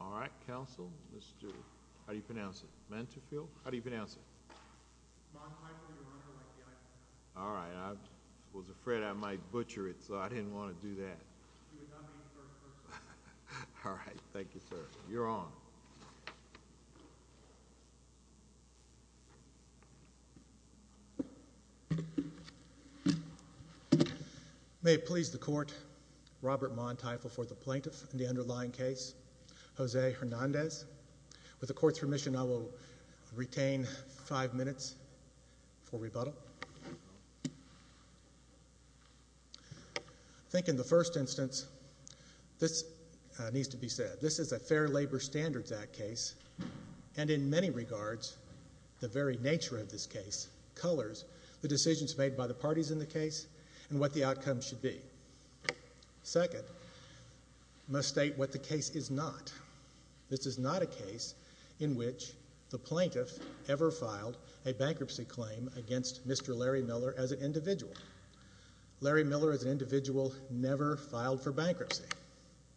All right, counsel. Mr. How do you pronounce it? Menterfield? How do you pronounce it? All right. I was afraid I might butcher it, so I didn't want to do that. All right. Thank you, sir. You're on. May it please the court, Robert Mondteifel for the plaintiff in the underlying case, Jose Hernandez. With the court's permission, I will retain five minutes for rebuttal. I think in the first instance, this needs to be said. This is a Fair Labor Standards Act case, and in many regards, the very nature of this case colors the decisions made by the parties in the case and what the outcome should be. Second, I must state what the case is not. This is not a case in which the plaintiff ever filed a bankruptcy claim against Mr. Larry Miller as an individual. Larry Miller as an individual never filed for bankruptcy.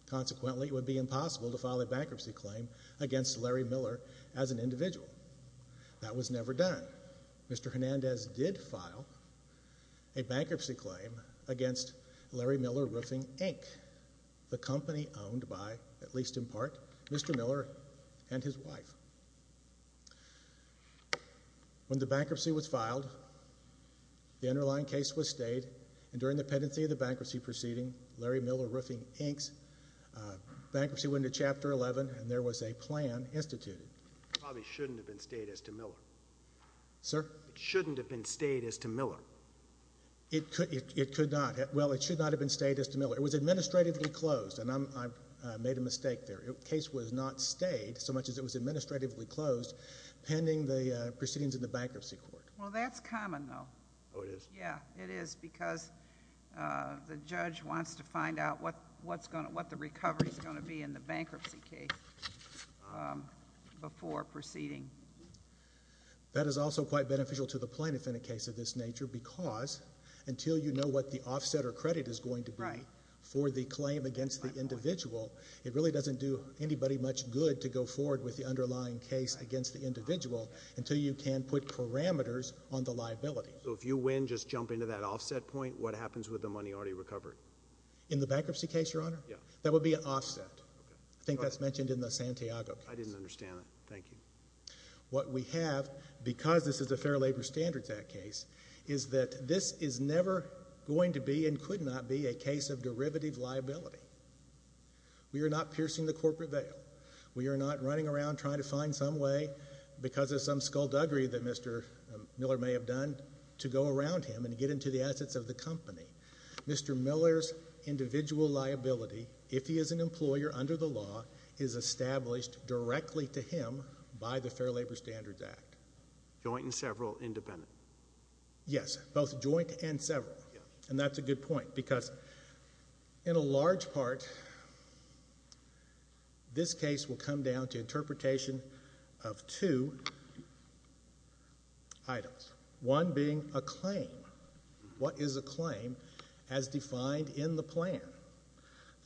Consequently, it would be impossible to file a bankruptcy claim against Larry Miller as an individual. That was never done. Mr. Hernandez did file a bankruptcy claim against Larry Miller Roofing, Inc., the company owned by, at least in part, Mr. Miller and his wife. When the bankruptcy was filed, the underlying case was stayed, and during the pendency of the bankruptcy proceeding, Larry Miller Roofing, Inc.'s bankruptcy went into Chapter 11, and there was a plan instituted. It probably shouldn't have been stayed as to Miller. Sir? It shouldn't have been stayed as to Miller. It was administratively closed, and I made a mistake there. The case was not stayed so much as it was administratively closed pending the proceedings in the bankruptcy court. Well, that's common, though. Oh, it is? Yes, it is, because the judge wants to find out what the recovery is going to be in the bankruptcy case before proceeding. That is also quite beneficial to the plaintiff in a case of this nature because until you know what the offset or credit is going to be for the claim against the individual, it really doesn't do anybody much good to go forward with the underlying case against the individual until you can put parameters on the liability. So if you win, just jump into that offset point, what happens with the money already recovered? In the bankruptcy case, Your Honor? Yes. That would be an offset. I think that's mentioned in the Santiago case. I didn't understand that. Thank you. What we have, because this is a Fair Labor Standards Act case, is that this is never going to be and could not be a case of derivative liability. We are not piercing the corporate veil. We are not running around trying to find some way because of some skullduggery that Mr. Miller may have done to go around him and get into the assets of the company. Mr. Miller's individual liability, if he is an employer under the law, is established directly to him by the Fair Labor Standards Act. Joint and several independent. Yes. Both joint and several. And that's a good point because in a large part, this case will come down to interpretation of two items. One being a claim. What is a claim as defined in the plan?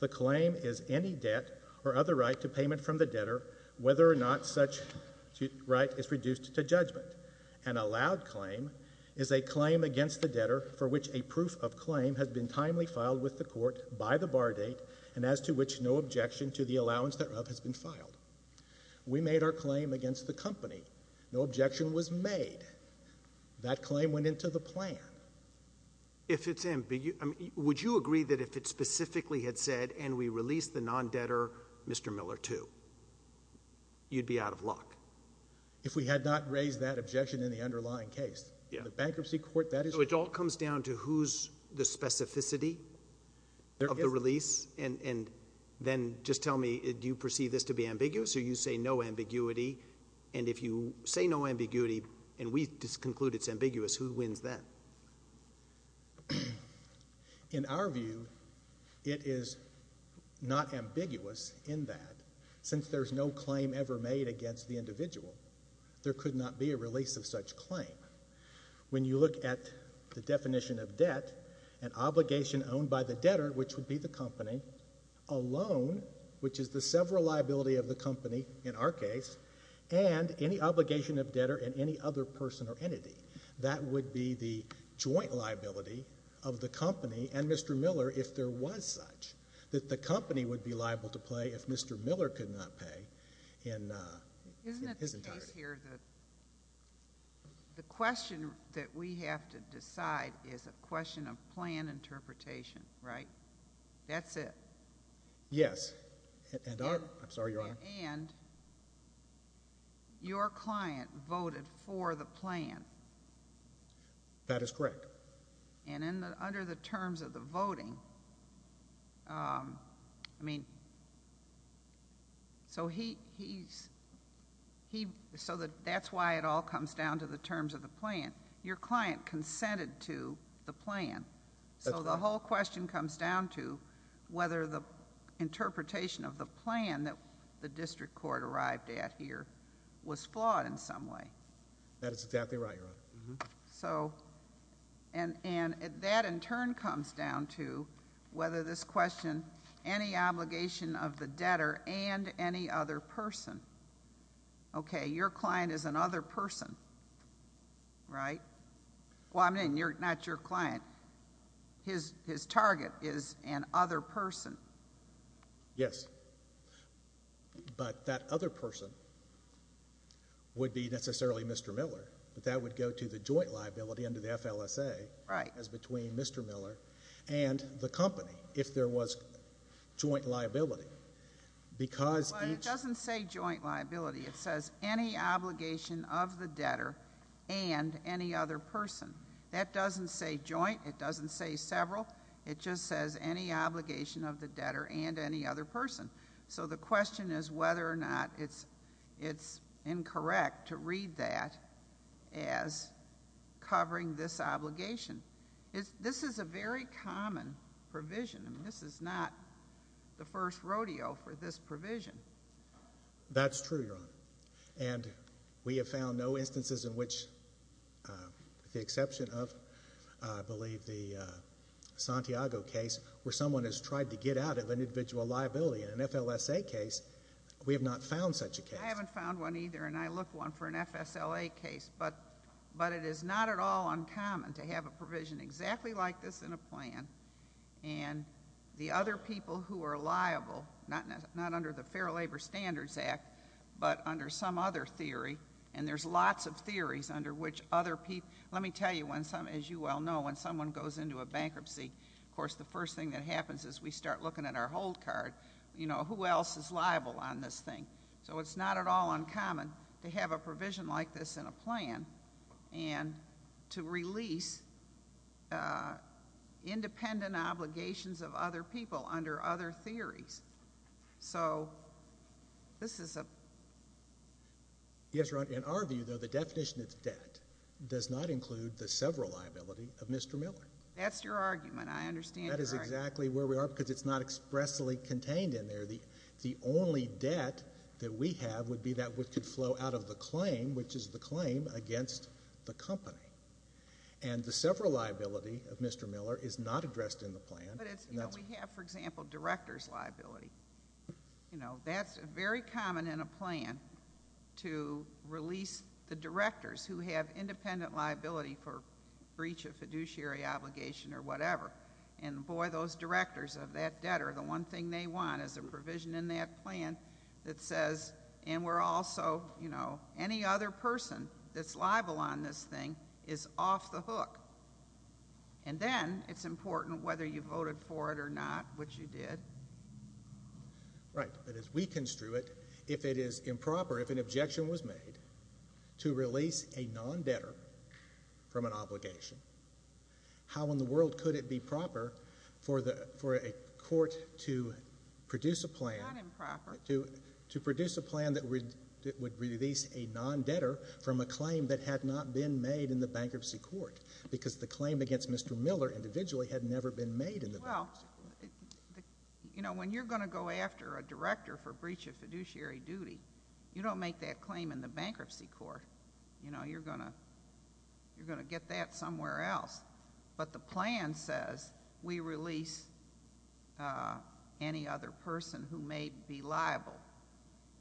The claim is any debt or other right to payment from the debtor, whether or not such right is reduced to judgment. An allowed claim is a claim against the debtor for which a proof of claim has been timely filed with the court by the bar date and as to which no objection to the allowance thereof has been filed. We made our claim against the company. No objection was made. That claim went into the plan. Would you agree that if it specifically had said, and we released the non-debtor, Mr. Miller, too, you'd be out of luck? If we had not raised that objection in the underlying case. The bankruptcy court, that is true. So it all comes down to who's the specificity of the release? And then just tell me, do you perceive this to be ambiguous or you say no ambiguity? And if you say no ambiguity and we conclude it's ambiguous, who wins then? In our view, it is not ambiguous in that, since there's no claim ever made against the individual. There could not be a release of such claim. When you look at the definition of debt, an obligation owned by the debtor, which would be the company, a loan, which is the sever liability of the company in our case, and any obligation of debtor in any other person or entity. That would be the joint liability of the company and Mr. Miller if there was such, that the company would be liable to pay if Mr. Miller could not pay in his entirety. Isn't it the case here that the question that we have to decide is a question of plan interpretation, right? That's it. Yes. I'm sorry, Your Honor. And your client voted for the plan. That is correct. And under the terms of the voting, I mean, so he's, so that's why it all comes down to the terms of the plan. Your client consented to the plan. So the whole question comes down to whether the interpretation of the plan that the district court arrived at here was flawed in some way. That is exactly right, Your Honor. So, and that in turn comes down to whether this question, any obligation of the debtor and any other person. Okay, your client is an other person, right? Well, I mean, not your client. His target is an other person. Yes. But that other person would be necessarily Mr. Miller, but that would go to the joint liability under the FLSA. Right. As between Mr. Miller and the company if there was joint liability. Well, it doesn't say joint liability. It says any obligation of the debtor and any other person. That doesn't say joint. It doesn't say several. It just says any obligation of the debtor and any other person. So the question is whether or not it's incorrect to read that as covering this obligation. This is a very common provision. This is not the first rodeo for this provision. That's true, Your Honor. And we have found no instances in which, with the exception of, I believe, the Santiago case where someone has tried to get out of an individual liability. In an FLSA case, we have not found such a case. I haven't found one either, and I look one for an FSLA case. But it is not at all uncommon to have a provision exactly like this in a plan, and the other people who are liable, not under the Fair Labor Standards Act, but under some other theory, and there's lots of theories under which other people. Let me tell you, as you well know, when someone goes into a bankruptcy, of course the first thing that happens is we start looking at our hold card. You know, who else is liable on this thing? So it's not at all uncommon to have a provision like this in a plan and to release independent obligations of other people under other theories. So this is a— Yes, Your Honor. In our view, though, the definition of debt does not include the sever liability of Mr. Miller. That's your argument. I understand your argument. That is exactly where we are because it's not expressly contained in there. The only debt that we have would be that which could flow out of the claim, which is the claim against the company. And the sever liability of Mr. Miller is not addressed in the plan. But we have, for example, director's liability. You know, that's very common in a plan to release the directors who have independent liability for breach of fiduciary obligation or whatever. And, boy, those directors of that debtor, the one thing they want is a provision in that plan that says, and we're also, you know, any other person that's liable on this thing is off the hook. And then it's important whether you voted for it or not, which you did. Right. But as we construe it, if it is improper, if an objection was made to release a non-debtor from an obligation, how in the world could it be proper for a court to produce a plan— It's not improper. To produce a plan that would release a non-debtor from a claim that had not been made in the bankruptcy court because the claim against Mr. Miller individually had never been made in the bankruptcy court. Well, you know, when you're going to go after a director for breach of fiduciary duty, you don't make that claim in the bankruptcy court. You know, you're going to get that somewhere else. But the plan says we release any other person who may be liable.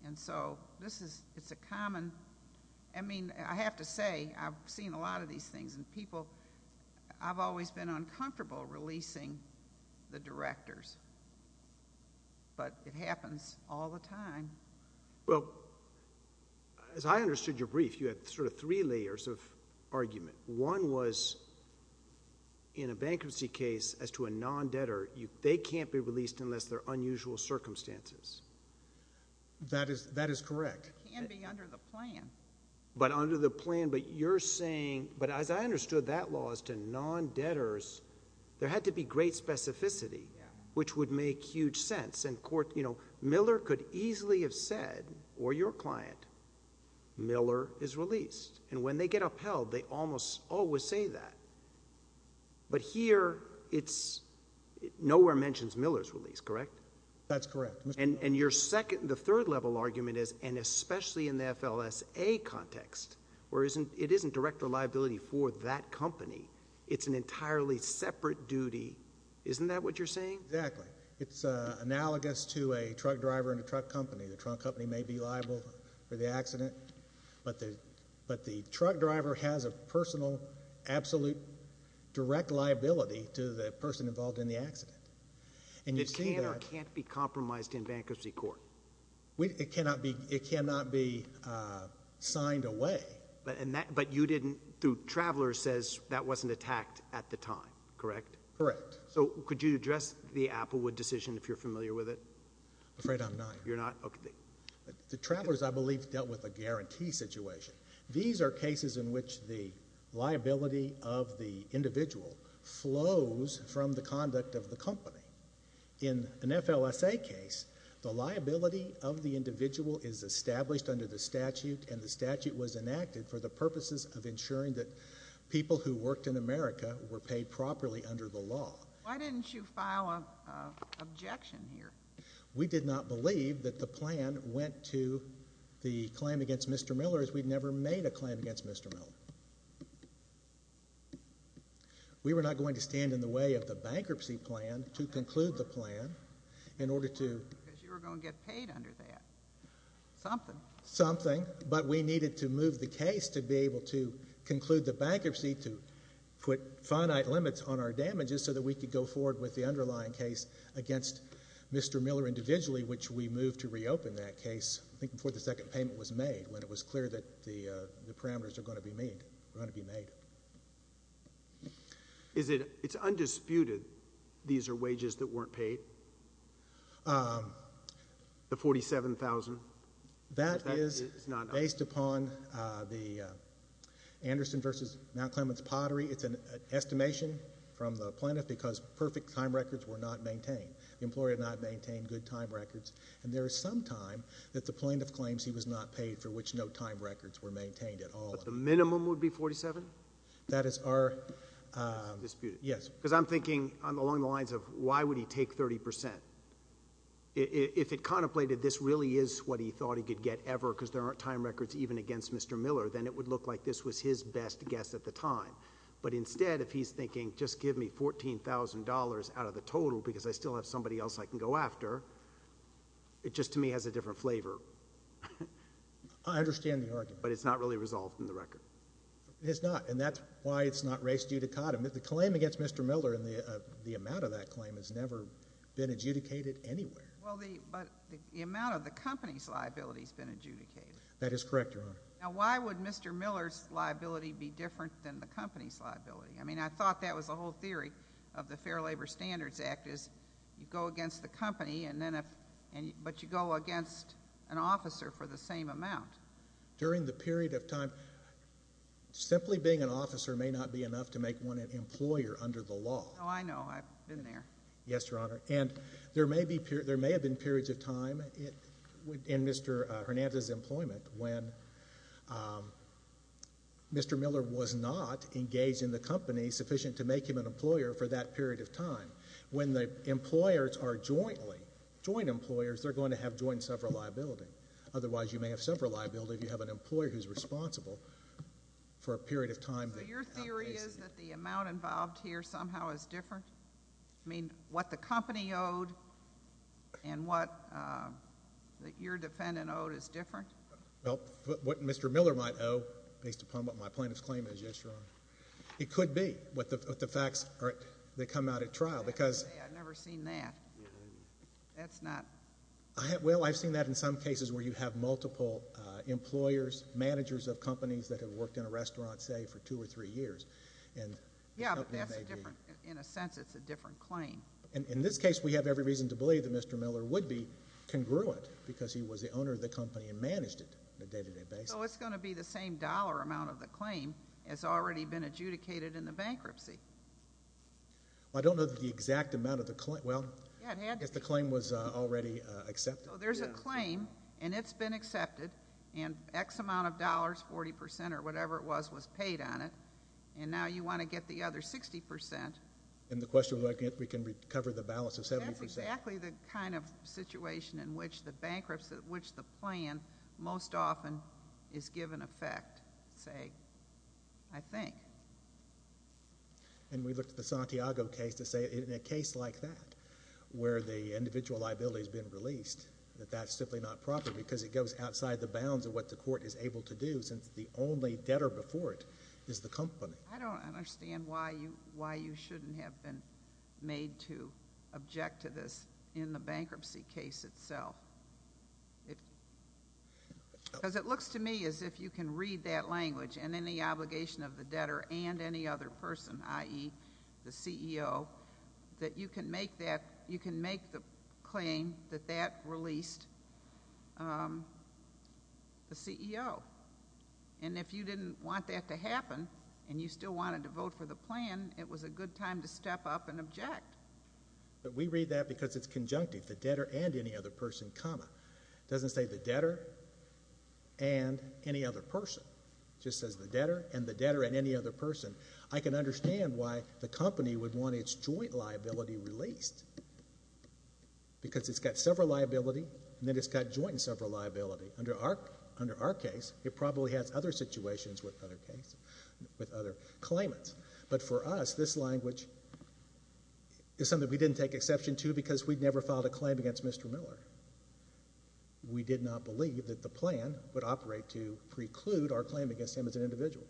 And so this is—it's a common—I mean, I have to say I've seen a lot of these things, and people—I've always been uncomfortable releasing the directors. But it happens all the time. Well, as I understood your brief, you had sort of three layers of argument. One was in a bankruptcy case as to a non-debtor, they can't be released unless they're unusual circumstances. That is correct. It can be under the plan. But under the plan, but you're saying—but as I understood that law as to non-debtors, there had to be great specificity, which would make huge sense. And, you know, Miller could easily have said, or your client, Miller is released. And when they get upheld, they almost always say that. But here, it's—nowhere mentions Miller's release, correct? That's correct. And your second—the third level argument is, and especially in the FLSA context, where it isn't director liability for that company. It's an entirely separate duty. Isn't that what you're saying? Exactly. It's analogous to a truck driver in a truck company. The truck company may be liable for the accident, but the truck driver has a personal, absolute, direct liability to the person involved in the accident. And you see that— It can or can't be compromised in bankruptcy court. It cannot be signed away. But you didn't—the traveler says that wasn't attacked at the time, correct? Correct. So could you address the Applewood decision, if you're familiar with it? Afraid I'm not. You're not? Okay. The travelers, I believe, dealt with a guarantee situation. These are cases in which the liability of the individual flows from the conduct of the company. In an FLSA case, the liability of the individual is established under the statute, and the statute was enacted for the purposes of ensuring that people who worked in America were paid properly under the law. Why didn't you file an objection here? We did not believe that the plan went to the claim against Mr. Miller as we'd never made a claim against Mr. Miller. We were not going to stand in the way of the bankruptcy plan to conclude the plan in order to— Because you were going to get paid under that. Something. Something. But we needed to move the case to be able to conclude the bankruptcy to put finite limits on our damages so that we could go forward with the underlying case against Mr. Miller individually, which we moved to reopen that case, I think, before the second payment was made, when it was clear that the parameters were going to be made. It's undisputed these are wages that weren't paid? The $47,000? That is based upon the Anderson v. Mount Clements Pottery. It's an estimation from the plaintiff because perfect time records were not maintained. The employer did not maintain good time records, and there is some time that the plaintiff claims he was not paid for which no time records were maintained at all. But the minimum would be $47,000? That is our— Undisputed. Yes. Because I'm thinking along the lines of why would he take 30 percent? If it contemplated this really is what he thought he could get ever because there aren't time records even against Mr. Miller, then it would look like this was his best guess at the time. But instead, if he's thinking just give me $14,000 out of the total because I still have somebody else I can go after, it just to me has a different flavor. I understand the argument. But it's not really resolved in the record? It's not, and that's why it's not raised judicatum. The claim against Mr. Miller and the amount of that claim has never been adjudicated anywhere. But the amount of the company's liability has been adjudicated. That is correct, Your Honor. Now, why would Mr. Miller's liability be different than the company's liability? I mean, I thought that was the whole theory of the Fair Labor Standards Act is you go against the company, but you go against an officer for the same amount. During the period of time, simply being an officer may not be enough to make one an employer under the law. Oh, I know. I've been there. Yes, Your Honor. And there may have been periods of time in Mr. Hernandez's employment when Mr. Miller was not engaged in the company sufficient to make him an employer for that period of time. When the employers are jointly, joint employers, they're going to have joint sever liability. Otherwise, you may have sever liability if you have an employer who's responsible for a period of time. So your theory is that the amount involved here somehow is different? I mean, what the company owed and what your defendant owed is different? Well, what Mr. Miller might owe based upon what my plaintiff's claim is, yes, Your Honor. It could be what the facts are that come out at trial because... I've never seen that. That's not... Well, I've seen that in some cases where you have multiple employers, managers of companies that have worked in a restaurant, say, for two or three years. Yeah, but that's a different... In a sense, it's a different claim. In this case, we have every reason to believe that Mr. Miller would be congruent because he was the owner of the company and managed it on a day-to-day basis. So it's going to be the same dollar amount of the claim as already been adjudicated in the bankruptcy. I don't know the exact amount of the claim. Well, I guess the claim was already accepted. So there's a claim, and it's been accepted, and X amount of dollars, 40 percent or whatever it was, was paid on it. And now you want to get the other 60 percent. And the question was, we can recover the balance of 70 percent. That's exactly the kind of situation in which the bankruptcy, which the plan most often is given effect, say, I think. And we looked at the Santiago case to say, in a case like that, where the individual liability has been released, that that's simply not proper because it goes outside the bounds of what the court is able to do since the only debtor before it is the company. I don't understand why you shouldn't have been made to object to this in the bankruptcy case itself. Because it looks to me as if you can read that language and any obligation of the debtor and any other person, i.e., the CEO, that you can make the claim that that released the CEO. And if you didn't want that to happen and you still wanted to vote for the plan, it was a good time to step up and object. But we read that because it's conjunctive, the debtor and any other person, comma. It doesn't say the debtor and any other person. It just says the debtor and the debtor and any other person. I can understand why the company would want its joint liability released because it's got several liability and then it's got joint and several liability. Under our case, it probably has other situations with other claims. But for us, this language is something we didn't take exception to because we'd never filed a claim against Mr. Miller. We did not believe that the plan would operate to preclude our claim against him as an individual.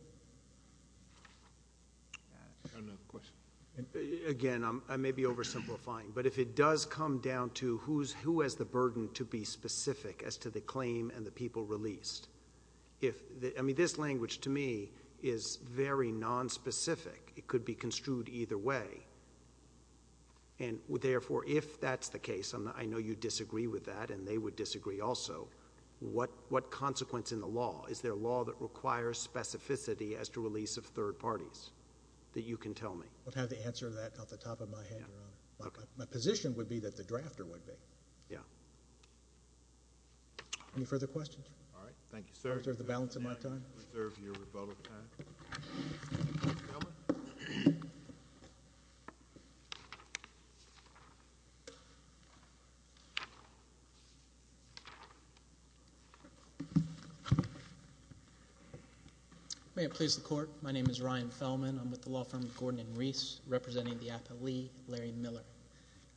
Again, I may be oversimplifying, but if it does come down to who has the burden to be specific as to the claim and the people released. I mean, this language to me is very nonspecific. It could be construed either way. Therefore, if that's the case, and I know you disagree with that and they would disagree also, what consequence in the law? Is there a law that requires specificity as to release of third parties that you can tell me? I'll have the answer to that off the top of my head, Your Honor. My position would be that the drafter would be. Yeah. Any further questions? All right. Thank you, sir. I reserve the balance of my time. I reserve your rebuttal time. Mr. Feldman? May it please the Court. My name is Ryan Feldman. I'm with the law firm Gordon and Reese, representing the appellee Larry Miller.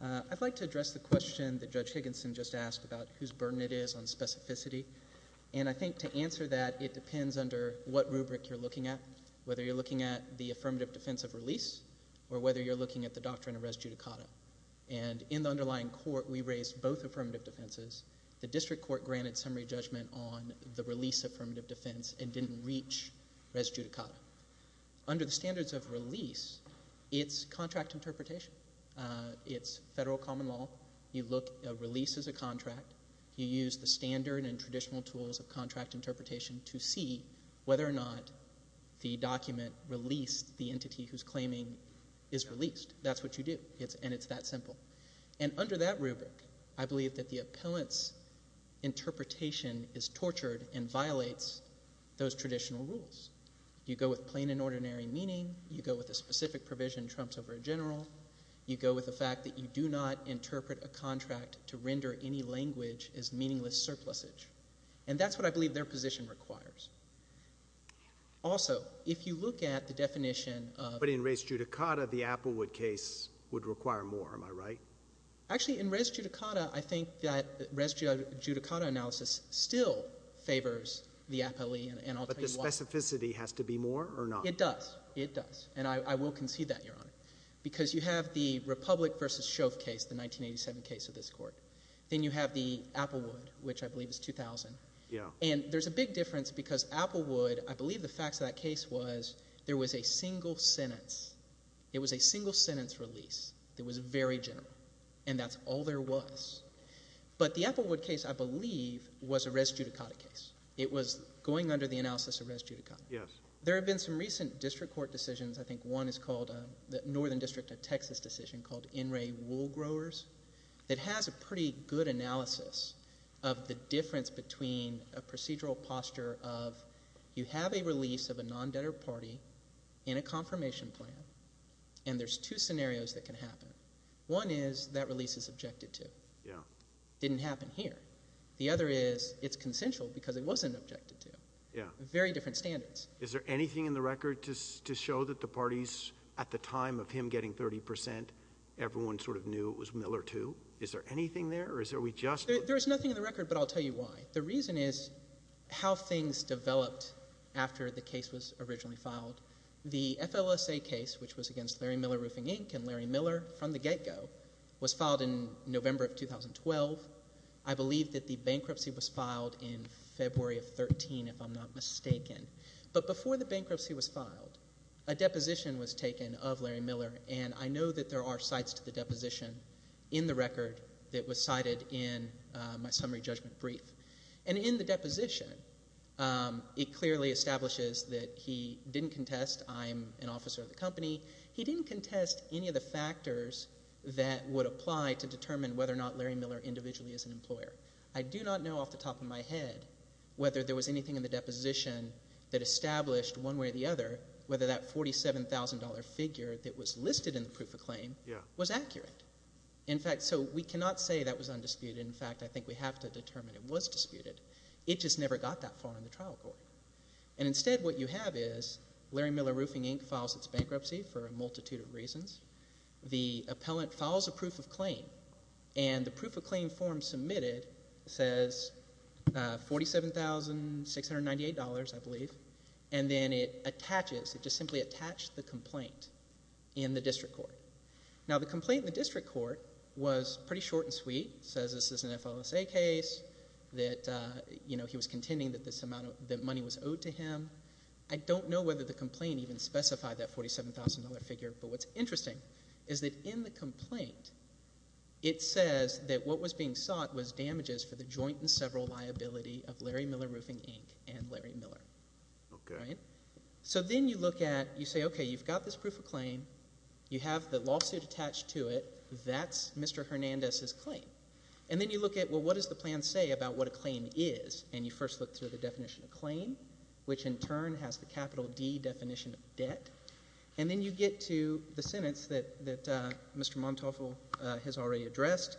I'd like to address the question that Judge Higginson just asked about whose burden it is on specificity, and I think to answer that, it depends under what rubric you're looking at, whether you're looking at the affirmative defense of release or whether you're looking at the doctrine of res judicata. And in the underlying court, we raised both affirmative defenses. The district court granted summary judgment on the release affirmative defense and didn't reach res judicata. Under the standards of release, it's contract interpretation. It's federal common law. You look at release as a contract. You use the standard and traditional tools of contract interpretation to see whether or not the document released the entity who's claiming is released. That's what you do, and it's that simple. And under that rubric, I believe that the appellant's interpretation is tortured and violates those traditional rules. You go with plain and ordinary meaning. You go with a specific provision trumps over a general. You go with the fact that you do not interpret a contract to render any language as meaningless surplusage. And that's what I believe their position requires. Also, if you look at the definition of— But in res judicata, the Applewood case would require more, am I right? Actually, in res judicata, I think that res judicata analysis still favors the appellee. But the specificity has to be more or not? It does. It does. And I will concede that, Your Honor, because you have the Republic v. Shove case, the 1987 case of this court. Then you have the Applewood, which I believe is 2000. And there's a big difference because Applewood, I believe the facts of that case was there was a single sentence. It was a single sentence release that was very general, and that's all there was. But the Applewood case, I believe, was a res judicata case. It was going under the analysis of res judicata. Yes. There have been some recent district court decisions. I think one is called the Northern District of Texas decision called NRA Wool Growers. It has a pretty good analysis of the difference between a procedural posture of you have a release of a non-debtor party in a confirmation plan, and there's two scenarios that can happen. One is that release is objected to. It didn't happen here. The other is it's consensual because it wasn't objected to. Very different standards. Is there anything in the record to show that the parties at the time of him getting 30 percent, everyone sort of knew it was Miller too? Is there anything there, or is there we just? There's nothing in the record, but I'll tell you why. The reason is how things developed after the case was originally filed. The FLSA case, which was against Larry Miller Roofing, Inc. and Larry Miller from the get-go, was filed in November of 2012. I believe that the bankruptcy was filed in February of 2013, if I'm not mistaken. But before the bankruptcy was filed, a deposition was taken of Larry Miller, and I know that there are sites to the deposition in the record that was cited in my summary judgment brief. And in the deposition, it clearly establishes that he didn't contest I'm an officer of the company. He didn't contest any of the factors that would apply to determine whether or not Larry Miller individually is an employer. I do not know off the top of my head whether there was anything in the deposition that established one way or the other whether that $47,000 figure that was listed in the proof of claim was accurate. In fact, so we cannot say that was undisputed. In fact, I think we have to determine it was disputed. It just never got that far in the trial court. And instead what you have is Larry Miller Roofing, Inc. files its bankruptcy for a multitude of reasons. The appellant files a proof of claim, and the proof of claim form submitted says $47,698, I believe. And then it attaches, it just simply attached the complaint in the district court. Now, the complaint in the district court was pretty short and sweet. It says this is an FLSA case, that he was contending that this amount of money was owed to him. I don't know whether the complaint even specified that $47,000 figure. But what's interesting is that in the complaint it says that what was being sought was damages for the joint and several liability of Larry Miller Roofing, Inc. and Larry Miller. So then you look at, you say, okay, you've got this proof of claim. You have the lawsuit attached to it. That's Mr. Hernandez's claim. And then you look at, well, what does the plan say about what a claim is? And you first look through the definition of claim, which in turn has the capital D definition of debt. And then you get to the sentence that Mr. Montauful has already addressed.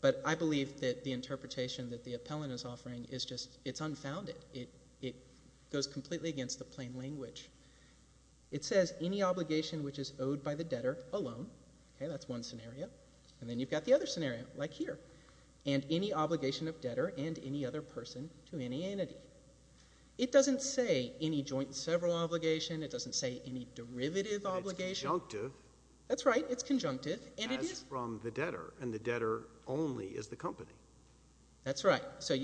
But I believe that the interpretation that the appellant is offering is just it's unfounded. It goes completely against the plain language. It says any obligation which is owed by the debtor alone. Okay. That's one scenario. And then you've got the other scenario, like here. And any obligation of debtor and any other person to any entity. It doesn't say any joint and several obligation. It doesn't say any derivative obligation. But it's conjunctive. That's right. It's conjunctive. As from the debtor. And the debtor only is the company. That's right. So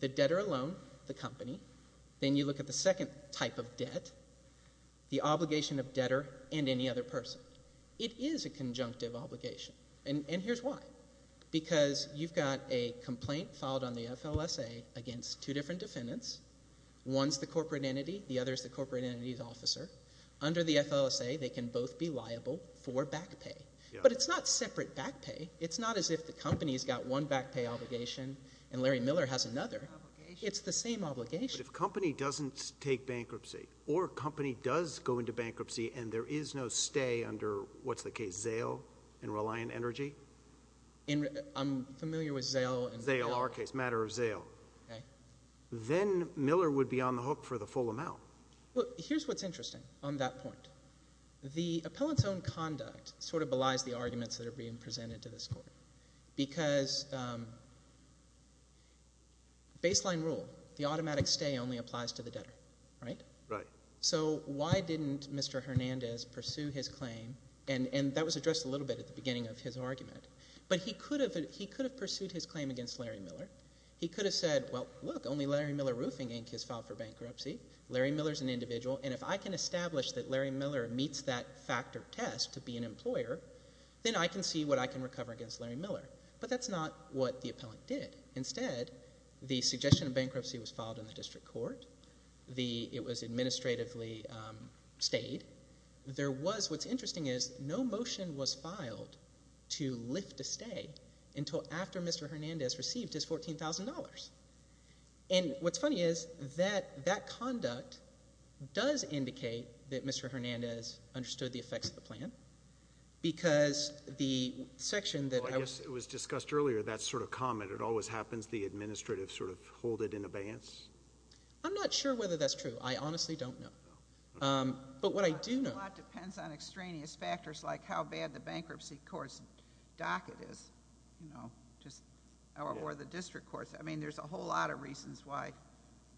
the debtor alone, the company. Then you look at the second type of debt, the obligation of debtor and any other person. It is a conjunctive obligation. And here's why. Because you've got a complaint filed on the FLSA against two different defendants. One is the corporate entity. The other is the corporate entity's officer. Under the FLSA, they can both be liable for back pay. But it's not separate back pay. It's not as if the company has got one back pay obligation and Larry Miller has another. It's the same obligation. But if a company doesn't take bankruptcy or a company does go into bankruptcy and there is no stay under, what's the case, Zale and Reliant Energy? I'm familiar with Zale. Zale, our case. Matter of Zale. Okay. Then Miller would be on the hook for the full amount. Well, here's what's interesting on that point. The appellant's own conduct sort of belies the arguments that are being presented to this court. Because baseline rule, the automatic stay only applies to the debtor. Right? Right. So why didn't Mr. Hernandez pursue his claim? And that was addressed a little bit at the beginning of his argument. But he could have pursued his claim against Larry Miller. He could have said, well, look, only Larry Miller Roofing Inc. has filed for bankruptcy. Larry Miller is an individual. And if I can establish that Larry Miller meets that factor test to be an employer, then I can see what I can recover against Larry Miller. But that's not what the appellant did. Instead, the suggestion of bankruptcy was filed in the district court. It was administratively stayed. What's interesting is no motion was filed to lift a stay until after Mr. Hernandez received his $14,000. And what's funny is that that conduct does indicate that Mr. Hernandez understood the effects of the plan. Because the section that I was... Well, I guess it was discussed earlier, that sort of comment. It always happens the administrative sort of hold it in abeyance. I'm not sure whether that's true. I honestly don't know. But what I do know... A lot depends on extraneous factors like how bad the bankruptcy court's docket is or the district court's. I mean there's a whole lot of reasons why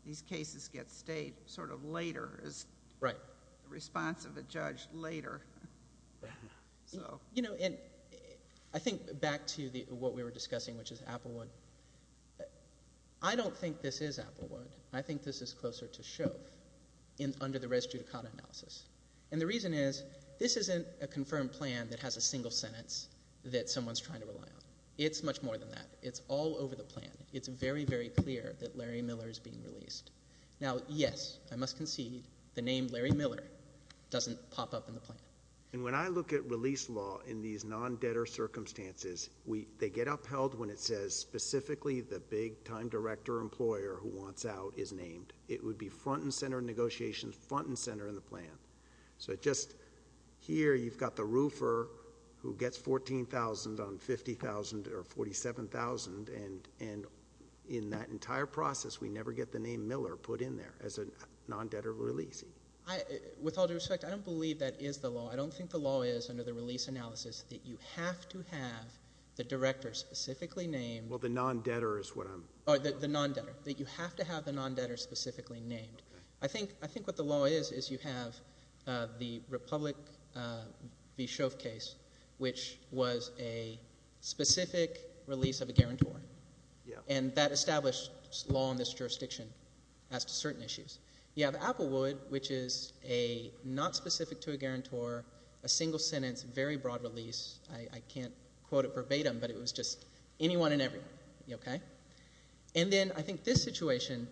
these cases get stayed sort of later as a response of a judge later. So... You know, and I think back to what we were discussing, which is Applewood. I don't think this is Applewood. I think this is closer to Shove under the res judicata analysis. And the reason is this isn't a confirmed plan that has a single sentence that someone's trying to rely on. It's much more than that. It's all over the plan. It's very, very clear that Larry Miller is being released. Now, yes, I must concede the name Larry Miller doesn't pop up in the plan. And when I look at release law in these non-debtor circumstances, they get upheld when it says specifically the big-time director or employer who wants out is named. It would be front and center negotiations, front and center in the plan. So just here you've got the roofer who gets $14,000 on $50,000 or $47,000, and in that entire process we never get the name Miller put in there as a non-debtor releasing. With all due respect, I don't believe that is the law. I don't think the law is under the release analysis that you have to have the director specifically named... Well, the non-debtor is what I'm... The non-debtor. You have to have the non-debtor specifically named. I think what the law is, is you have the Republic v. Shove case, which was a specific release of a guarantor. And that established law in this jurisdiction as to certain issues. You have Applewood, which is a not specific to a guarantor, a single sentence, very broad release. I can't quote it verbatim, but it was just anyone and everyone. And then I think this situation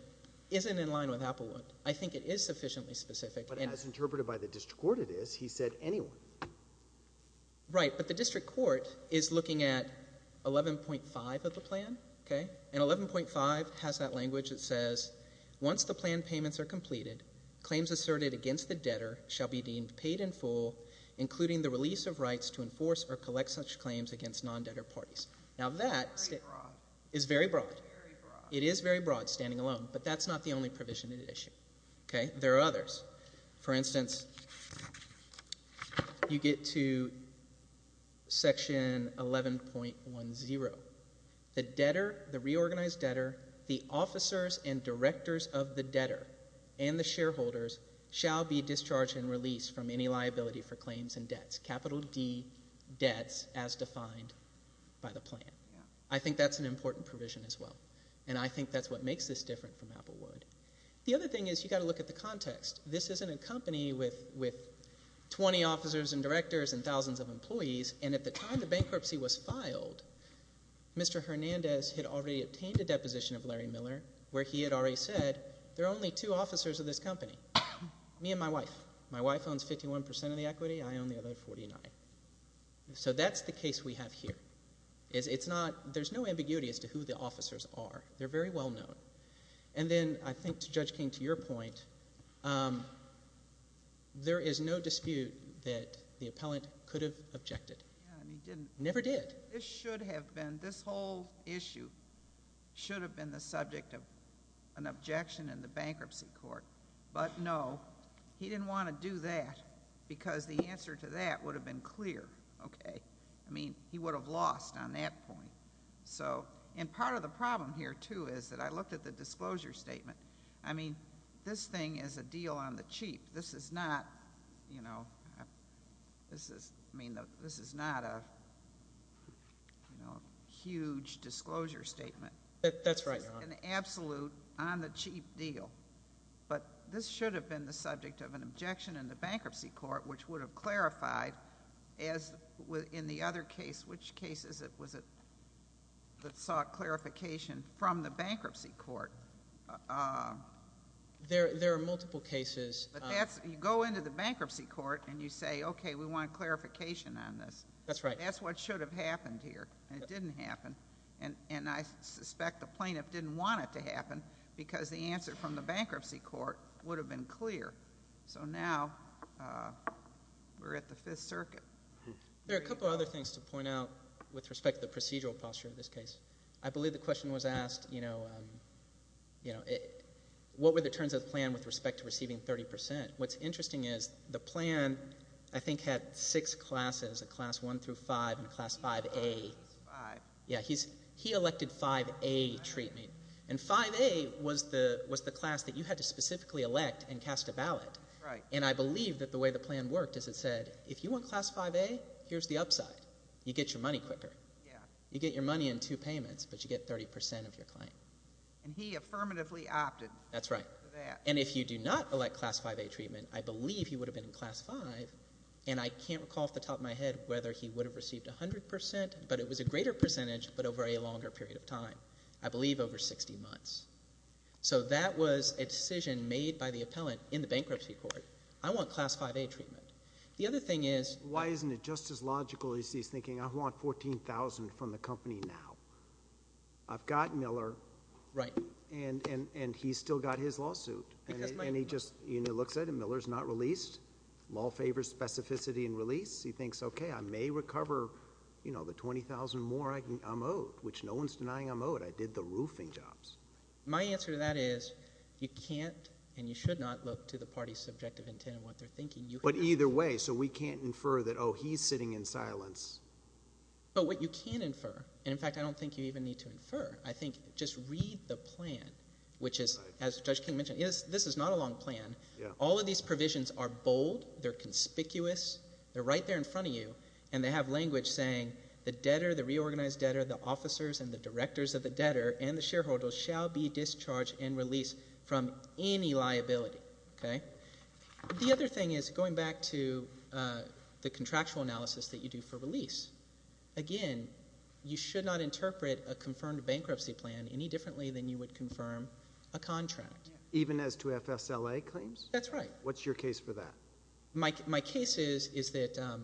isn't in line with Applewood. I think it is sufficiently specific. But as interpreted by the district court, it is. He said anyone. Right, but the district court is looking at 11.5 of the plan. And 11.5 has that language that says, Once the plan payments are completed, claims asserted against the debtor shall be deemed paid in full, including the release of rights to enforce or collect such claims against non-debtor parties. Now that is very broad. It is very broad, standing alone. But that's not the only provision in the issue. There are others. For instance, you get to section 11.10. The debtor, the reorganized debtor, the officers and directors of the debtor, and the shareholders, shall be discharged and released from any liability for claims and debts. Capital D debts as defined by the plan. I think that's an important provision as well. And I think that's what makes this different from Applewood. The other thing is you've got to look at the context. This isn't a company with 20 officers and directors and thousands of employees. And at the time the bankruptcy was filed, Mr. Hernandez had already obtained a deposition of Larry Miller where he had already said there are only two officers of this company, me and my wife. My wife owns 51% of the equity. I own the other 49%. So that's the case we have here. There's no ambiguity as to who the officers are. They're very well known. And then I think, Judge King, to your point, there is no dispute that the appellant could have objected. Never did. This should have been, this whole issue should have been the subject of an objection in the bankruptcy court. But, no, he didn't want to do that because the answer to that would have been clear. Okay. I mean, he would have lost on that point. So, and part of the problem here, too, is that I looked at the disclosure statement. I mean, this thing is a deal on the cheap. This is not, you know, this is not a huge disclosure statement. That's right, Your Honor. This is not an absolute on the cheap deal. But this should have been the subject of an objection in the bankruptcy court, which would have clarified, as in the other case, which cases was it that sought clarification from the bankruptcy court? There are multiple cases. But that's, you go into the bankruptcy court and you say, okay, we want clarification on this. That's right. That's what should have happened here. It didn't happen. And I suspect the plaintiff didn't want it to happen because the answer from the bankruptcy court would have been clear. So now we're at the Fifth Circuit. There are a couple of other things to point out with respect to the procedural posture of this case. I believe the question was asked, you know, what were the terms of the plan with respect to receiving 30 percent? What's interesting is the plan, I think, had six classes, a class 1 through 5 and a class 5A. Yeah, he elected 5A treatment. And 5A was the class that you had to specifically elect and cast a ballot. And I believe that the way the plan worked is it said, if you want class 5A, here's the upside. You get your money quicker. You get your money in two payments, but you get 30 percent of your claim. And he affirmatively opted for that. That's right. And if you do not elect class 5A treatment, I believe he would have been in class 5. And I can't recall off the top of my head whether he would have received 100 percent. But it was a greater percentage but over a longer period of time, I believe over 60 months. So that was a decision made by the appellant in the bankruptcy court. I want class 5A treatment. The other thing is— Why isn't it just as logical as he's thinking I want $14,000 from the company now? I've got Miller. Right. And he's still got his lawsuit. And he just looks at it. Miller's not released. Law favors specificity and release. He thinks, okay, I may recover the $20,000 more I'm owed, which no one's denying I'm owed. I did the roofing jobs. My answer to that is you can't and you should not look to the party's subjective intent on what they're thinking. But either way, so we can't infer that, oh, he's sitting in silence. But what you can infer, and, in fact, I don't think you even need to infer. I think just read the plan, which is, as Judge King mentioned, this is not a long plan. All of these provisions are bold. They're conspicuous. They're right there in front of you. And they have language saying the debtor, the reorganized debtor, the officers and the directors of the debtor and the shareholders shall be discharged and released from any liability. The other thing is, going back to the contractual analysis that you do for release, again, you should not interpret a confirmed bankruptcy plan any differently than you would confirm a contract. Even as to FSLA claims? That's right. What's your case for that? My case is that,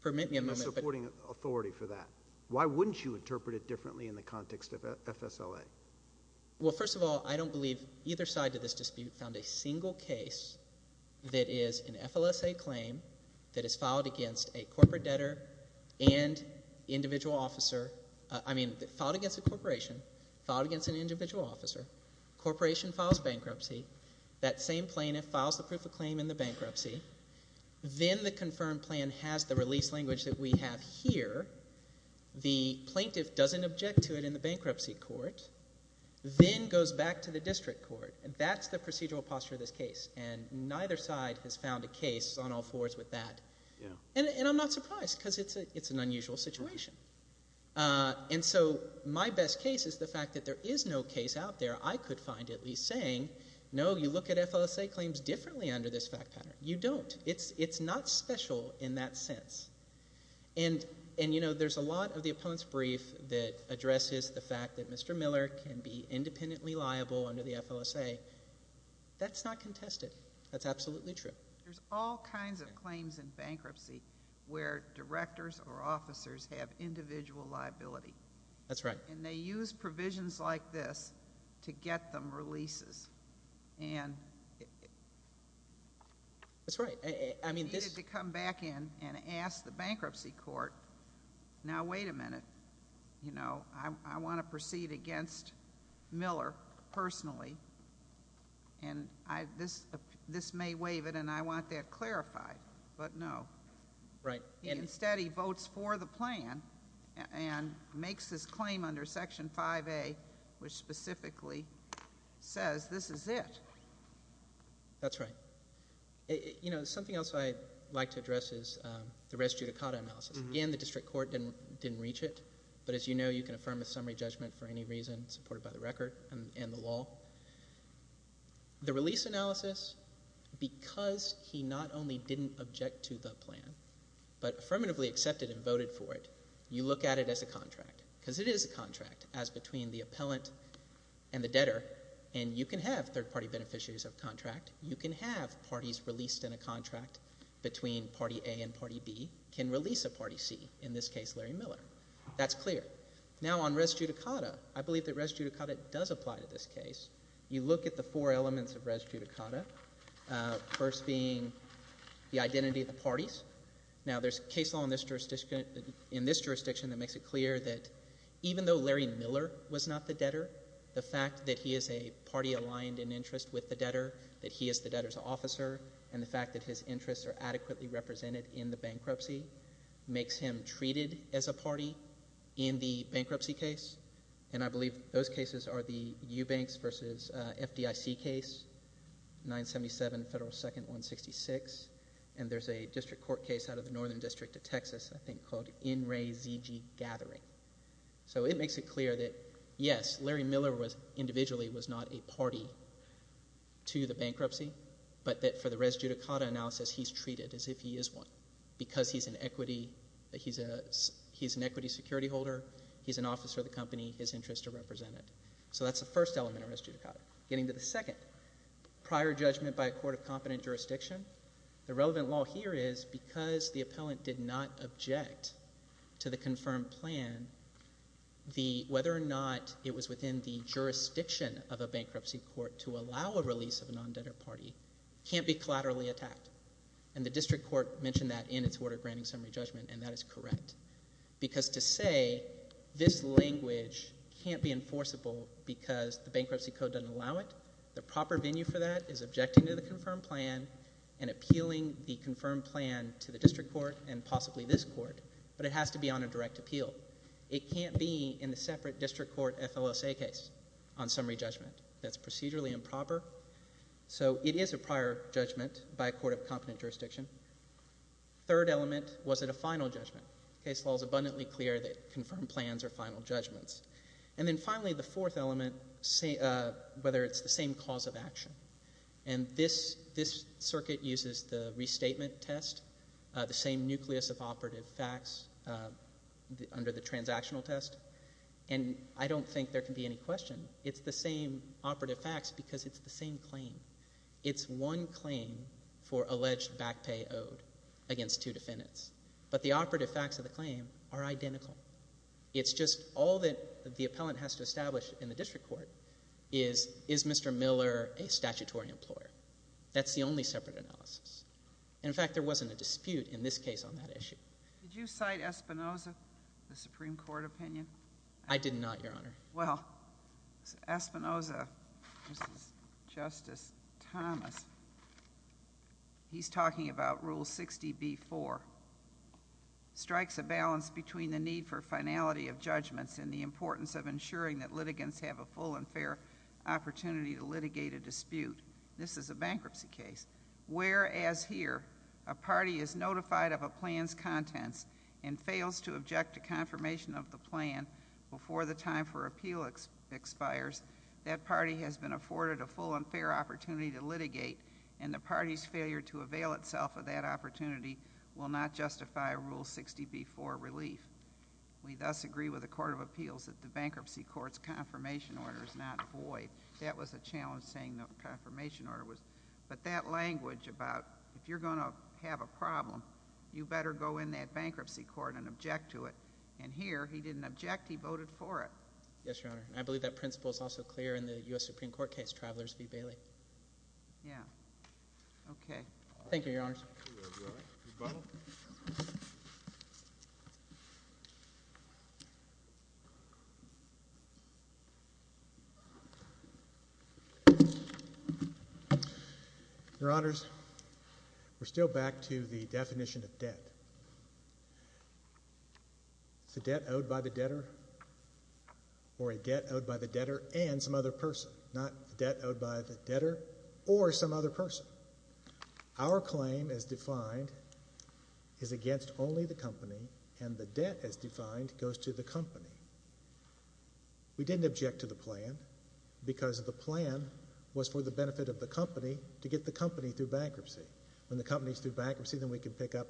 permit me a moment. You're supporting authority for that. Why wouldn't you interpret it differently in the context of FSLA? Well, first of all, I don't believe either side of this dispute found a single case that is an FLSA claim that is filed against a corporate debtor and individual officer. I mean filed against a corporation, filed against an individual officer. A corporation files bankruptcy. That same plaintiff files the proof of claim in the bankruptcy. Then the confirmed plan has the release language that we have here. The plaintiff doesn't object to it in the bankruptcy court, then goes back to the district court. That's the procedural posture of this case, and neither side has found a case on all fours with that. And I'm not surprised because it's an unusual situation. And so my best case is the fact that there is no case out there I could find at least saying, no, you look at FLSA claims differently under this fact pattern. You don't. It's not special in that sense. And, you know, there's a lot of the opponent's brief that addresses the fact that Mr. Miller can be independently liable under the FLSA. That's not contested. That's absolutely true. There's all kinds of claims in bankruptcy where directors or officers have individual liability. That's right. And they use provisions like this to get them releases. And I needed to come back in and ask the bankruptcy court, now wait a minute, you know, I want to proceed against Miller personally. And this may waive it, and I want that clarified. But no. Right. Instead he votes for the plan and makes his claim under Section 5A, which specifically says this is it. That's right. You know, something else I'd like to address is the res judicata analysis. Again, the district court didn't reach it. But as you know, you can affirm a summary judgment for any reason supported by the record and the law. The release analysis, because he not only didn't object to the plan but affirmatively accepted and voted for it, you look at it as a contract. Because it is a contract as between the appellant and the debtor. And you can have third-party beneficiaries of contract. You can have parties released in a contract between Party A and Party B can release a Party C, in this case Larry Miller. That's clear. Now, on res judicata, I believe that res judicata does apply to this case. You look at the four elements of res judicata, first being the identity of the parties. Now, there's case law in this jurisdiction that makes it clear that even though Larry Miller was not the debtor, the fact that he is a party aligned in interest with the debtor, that he is the debtor's officer, and the fact that his interests are adequately represented in the bankruptcy makes him treated as a party in the bankruptcy case. And I believe those cases are the Eubanks v. FDIC case, 977 Federal 2nd 166. And there's a district court case out of the Northern District of Texas, I think, called In Re ZG Gathering. So it makes it clear that, yes, Larry Miller individually was not a party to the bankruptcy, but that for the res judicata analysis, he's treated as if he is one because he's an equity security holder, he's an officer of the company, his interests are represented. So that's the first element of res judicata. Getting to the second, prior judgment by a court of competent jurisdiction, the relevant law here is because the appellant did not object to the confirmed plan, whether or not it was within the jurisdiction of a bankruptcy court to allow a release of a non-debtor party can't be collaterally attacked. And the district court mentioned that in its order of granting summary judgment, and that is correct. Because to say this language can't be enforceable because the bankruptcy code doesn't allow it, the proper venue for that is objecting to the confirmed plan and appealing the confirmed plan to the district court and possibly this court, but it has to be on a direct appeal. It can't be in a separate district court FLSA case on summary judgment. That's procedurally improper. So it is a prior judgment by a court of competent jurisdiction. Third element, was it a final judgment? Case law is abundantly clear that confirmed plans are final judgments. And then finally, the fourth element, whether it's the same cause of action. And this circuit uses the restatement test, the same nucleus of operative facts under the transactional test. And I don't think there can be any question. It's the same operative facts because it's the same claim. It's one claim for alleged back pay owed against two defendants. But the operative facts of the claim are identical. It's just all that the appellant has to establish in the district court is, is Mr. Miller a statutory employer? That's the only separate analysis. In fact, there wasn't a dispute in this case on that issue. Did you cite Espinoza, the Supreme Court opinion? I did not, Your Honor. Well, Espinoza, Justice Thomas, he's talking about Rule 60b-4, strikes a balance between the need for finality of judgments and the importance of ensuring that litigants have a full and fair opportunity to litigate a dispute. This is a bankruptcy case. Whereas here, a party is notified of a plan's contents and fails to object to confirmation of the plan before the time for appeal expires, that party has been afforded a full and fair opportunity to litigate, and the party's failure to avail itself of that opportunity will not justify Rule 60b-4 relief. We thus agree with the Court of Appeals that the bankruptcy court's confirmation order is not void. That was a challenge, saying the confirmation order was. But that language about, if you're going to have a problem, you better go in that bankruptcy court and object to it. And here, he didn't object, he voted for it. Yes, Your Honor. I believe that principle is also clear in the U.S. Supreme Court case, Travelers v. Bailey. Yeah. Okay. Thank you, Your Honors. Mr. Butler. Your Honors, we're still back to the definition of debt. It's a debt owed by the debtor or a debt owed by the debtor and some other person, not a debt owed by the debtor or some other person. Our claim, as defined, is against only the company, and the debt, as defined, goes to the company. We didn't object to the plan because the plan was for the benefit of the company to get the company through bankruptcy. When the company's through bankruptcy, then we can pick up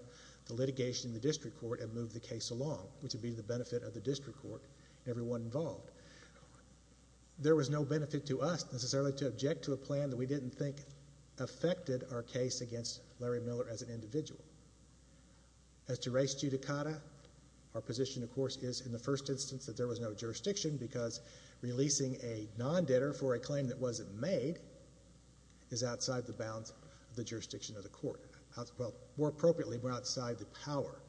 the litigation in the district court and move the case along, which would be to the benefit of the district court and everyone involved. There was no benefit to us, necessarily, to object to a plan that we didn't think affected our case against Larry Miller as an individual. As to res judicata, our position, of course, is, in the first instance, that there was no jurisdiction because releasing a non-debtor for a claim that wasn't made is outside the bounds of the jurisdiction of the court. Well, more appropriately, we're outside the power.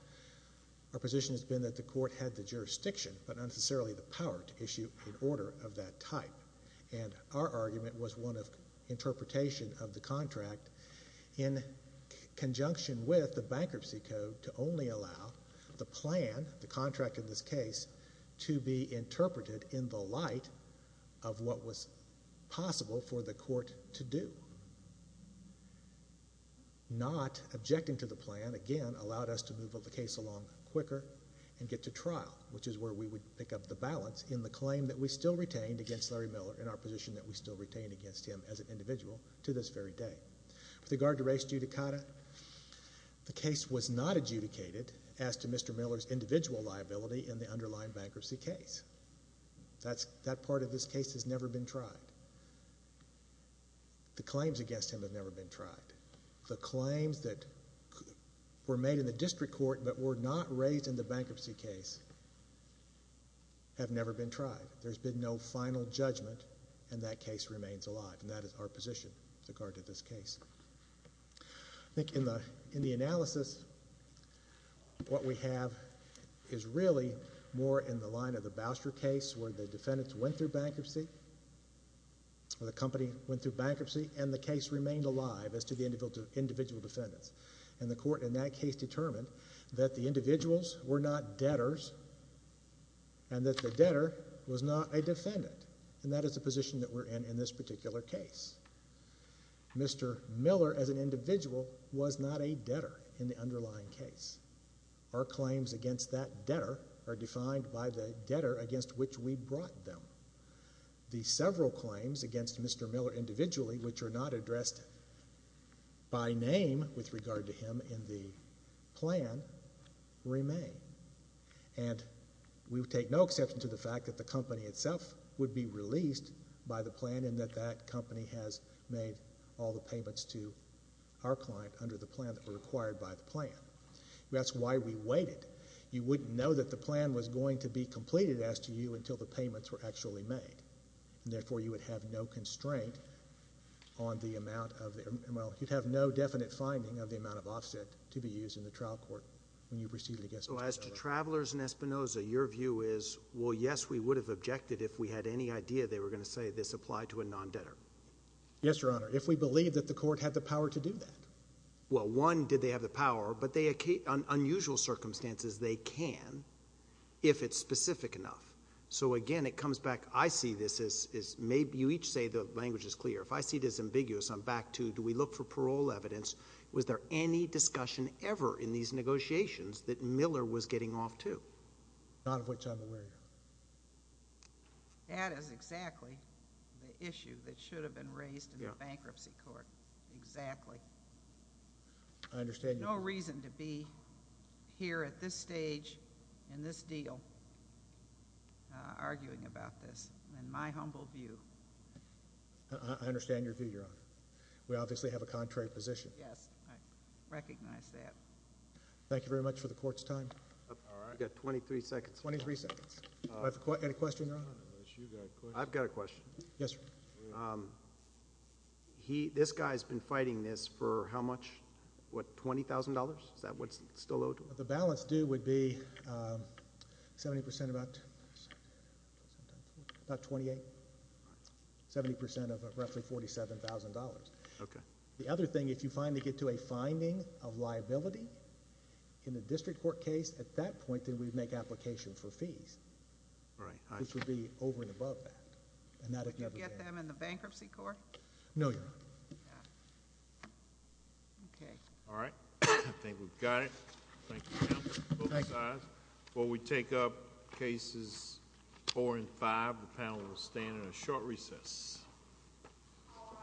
Our position has been that the court had the jurisdiction, but not necessarily the power, to issue an order of that type. And our argument was one of interpretation of the contract in conjunction with the bankruptcy code to only allow the plan, the contract in this case, to be interpreted in the light of what was possible for the court to do. Not objecting to the plan, again, allowed us to move the case along quicker and get to trial, which is where we would pick up the balance in the claim that we still retained against Larry Miller and our position that we still retained against him as an individual to this very day. With regard to res judicata, the case was not adjudicated as to Mr. Miller's individual liability in the underlying bankruptcy case. That part of this case has never been tried. The claims against him have never been tried. The claims that were made in the district court but were not raised in the bankruptcy case have never been tried. There's been no final judgment, and that case remains alive, and that is our position with regard to this case. I think in the analysis, what we have is really more in the line of the Bousher case, where the defendant went through bankruptcy, or the company went through bankruptcy, and the case remained alive as to the individual defendants, and the court in that case determined that the individuals were not debtors and that the debtor was not a defendant, and that is the position that we're in in this particular case. Mr. Miller, as an individual, was not a debtor in the underlying case. Our claims against that debtor are defined by the debtor against which we brought them. The several claims against Mr. Miller individually, which are not addressed by name with regard to him in the plan, remain, and we take no exception to the fact that the company itself would be released by the plan and that that company has made all the payments to our client under the plan that were required by the plan. That's why we waited. You wouldn't know that the plan was going to be completed as to you until the payments were actually made, and therefore, you would have no constraint on the amount of the amount. You'd have no definite finding of the amount of offset to be used in the trial court when you proceeded against Mr. Miller. So as to travelers in Espinoza, your view is, well, yes, we would have objected if we had any idea they were going to say this applied to a non-debtor. Yes, Your Honor. If we believed that the court had the power to do that. Well, one, did they have the power, but in unusual circumstances, they can if it's specific enough. So again, it comes back, I see this as maybe you each say the language is clear. If I see it as ambiguous, I'm back to do we look for parole evidence? Was there any discussion ever in these negotiations that Miller was getting off to? None of which I'm aware of. That is exactly the issue that should have been raised in the bankruptcy court. Exactly. I understand. No reason to be here at this stage in this deal arguing about this in my humble view. I understand your view, Your Honor. We obviously have a contrary position. Yes, I recognize that. Thank you very much for the court's time. You've got 23 seconds. 23 seconds. Do I have a question, Your Honor? I've got a question. Yes, sir. This guy's been fighting this for how much? What, $20,000? Is that what's still owed to him? The balance due would be 70%, about 28, 70% of roughly $47,000. Okay. The other thing, if you finally get to a finding of liability in a district court case, at that point, then we'd make application for fees. Right. Which would be over and above that. And that if you ever get... You'll get them in the bankruptcy court? No, Your Honor. Okay. All right. I think we've got it. Thank you, counsel. Thank you. We'll take up cases four and five. The panel will stand in a short recess. All rise.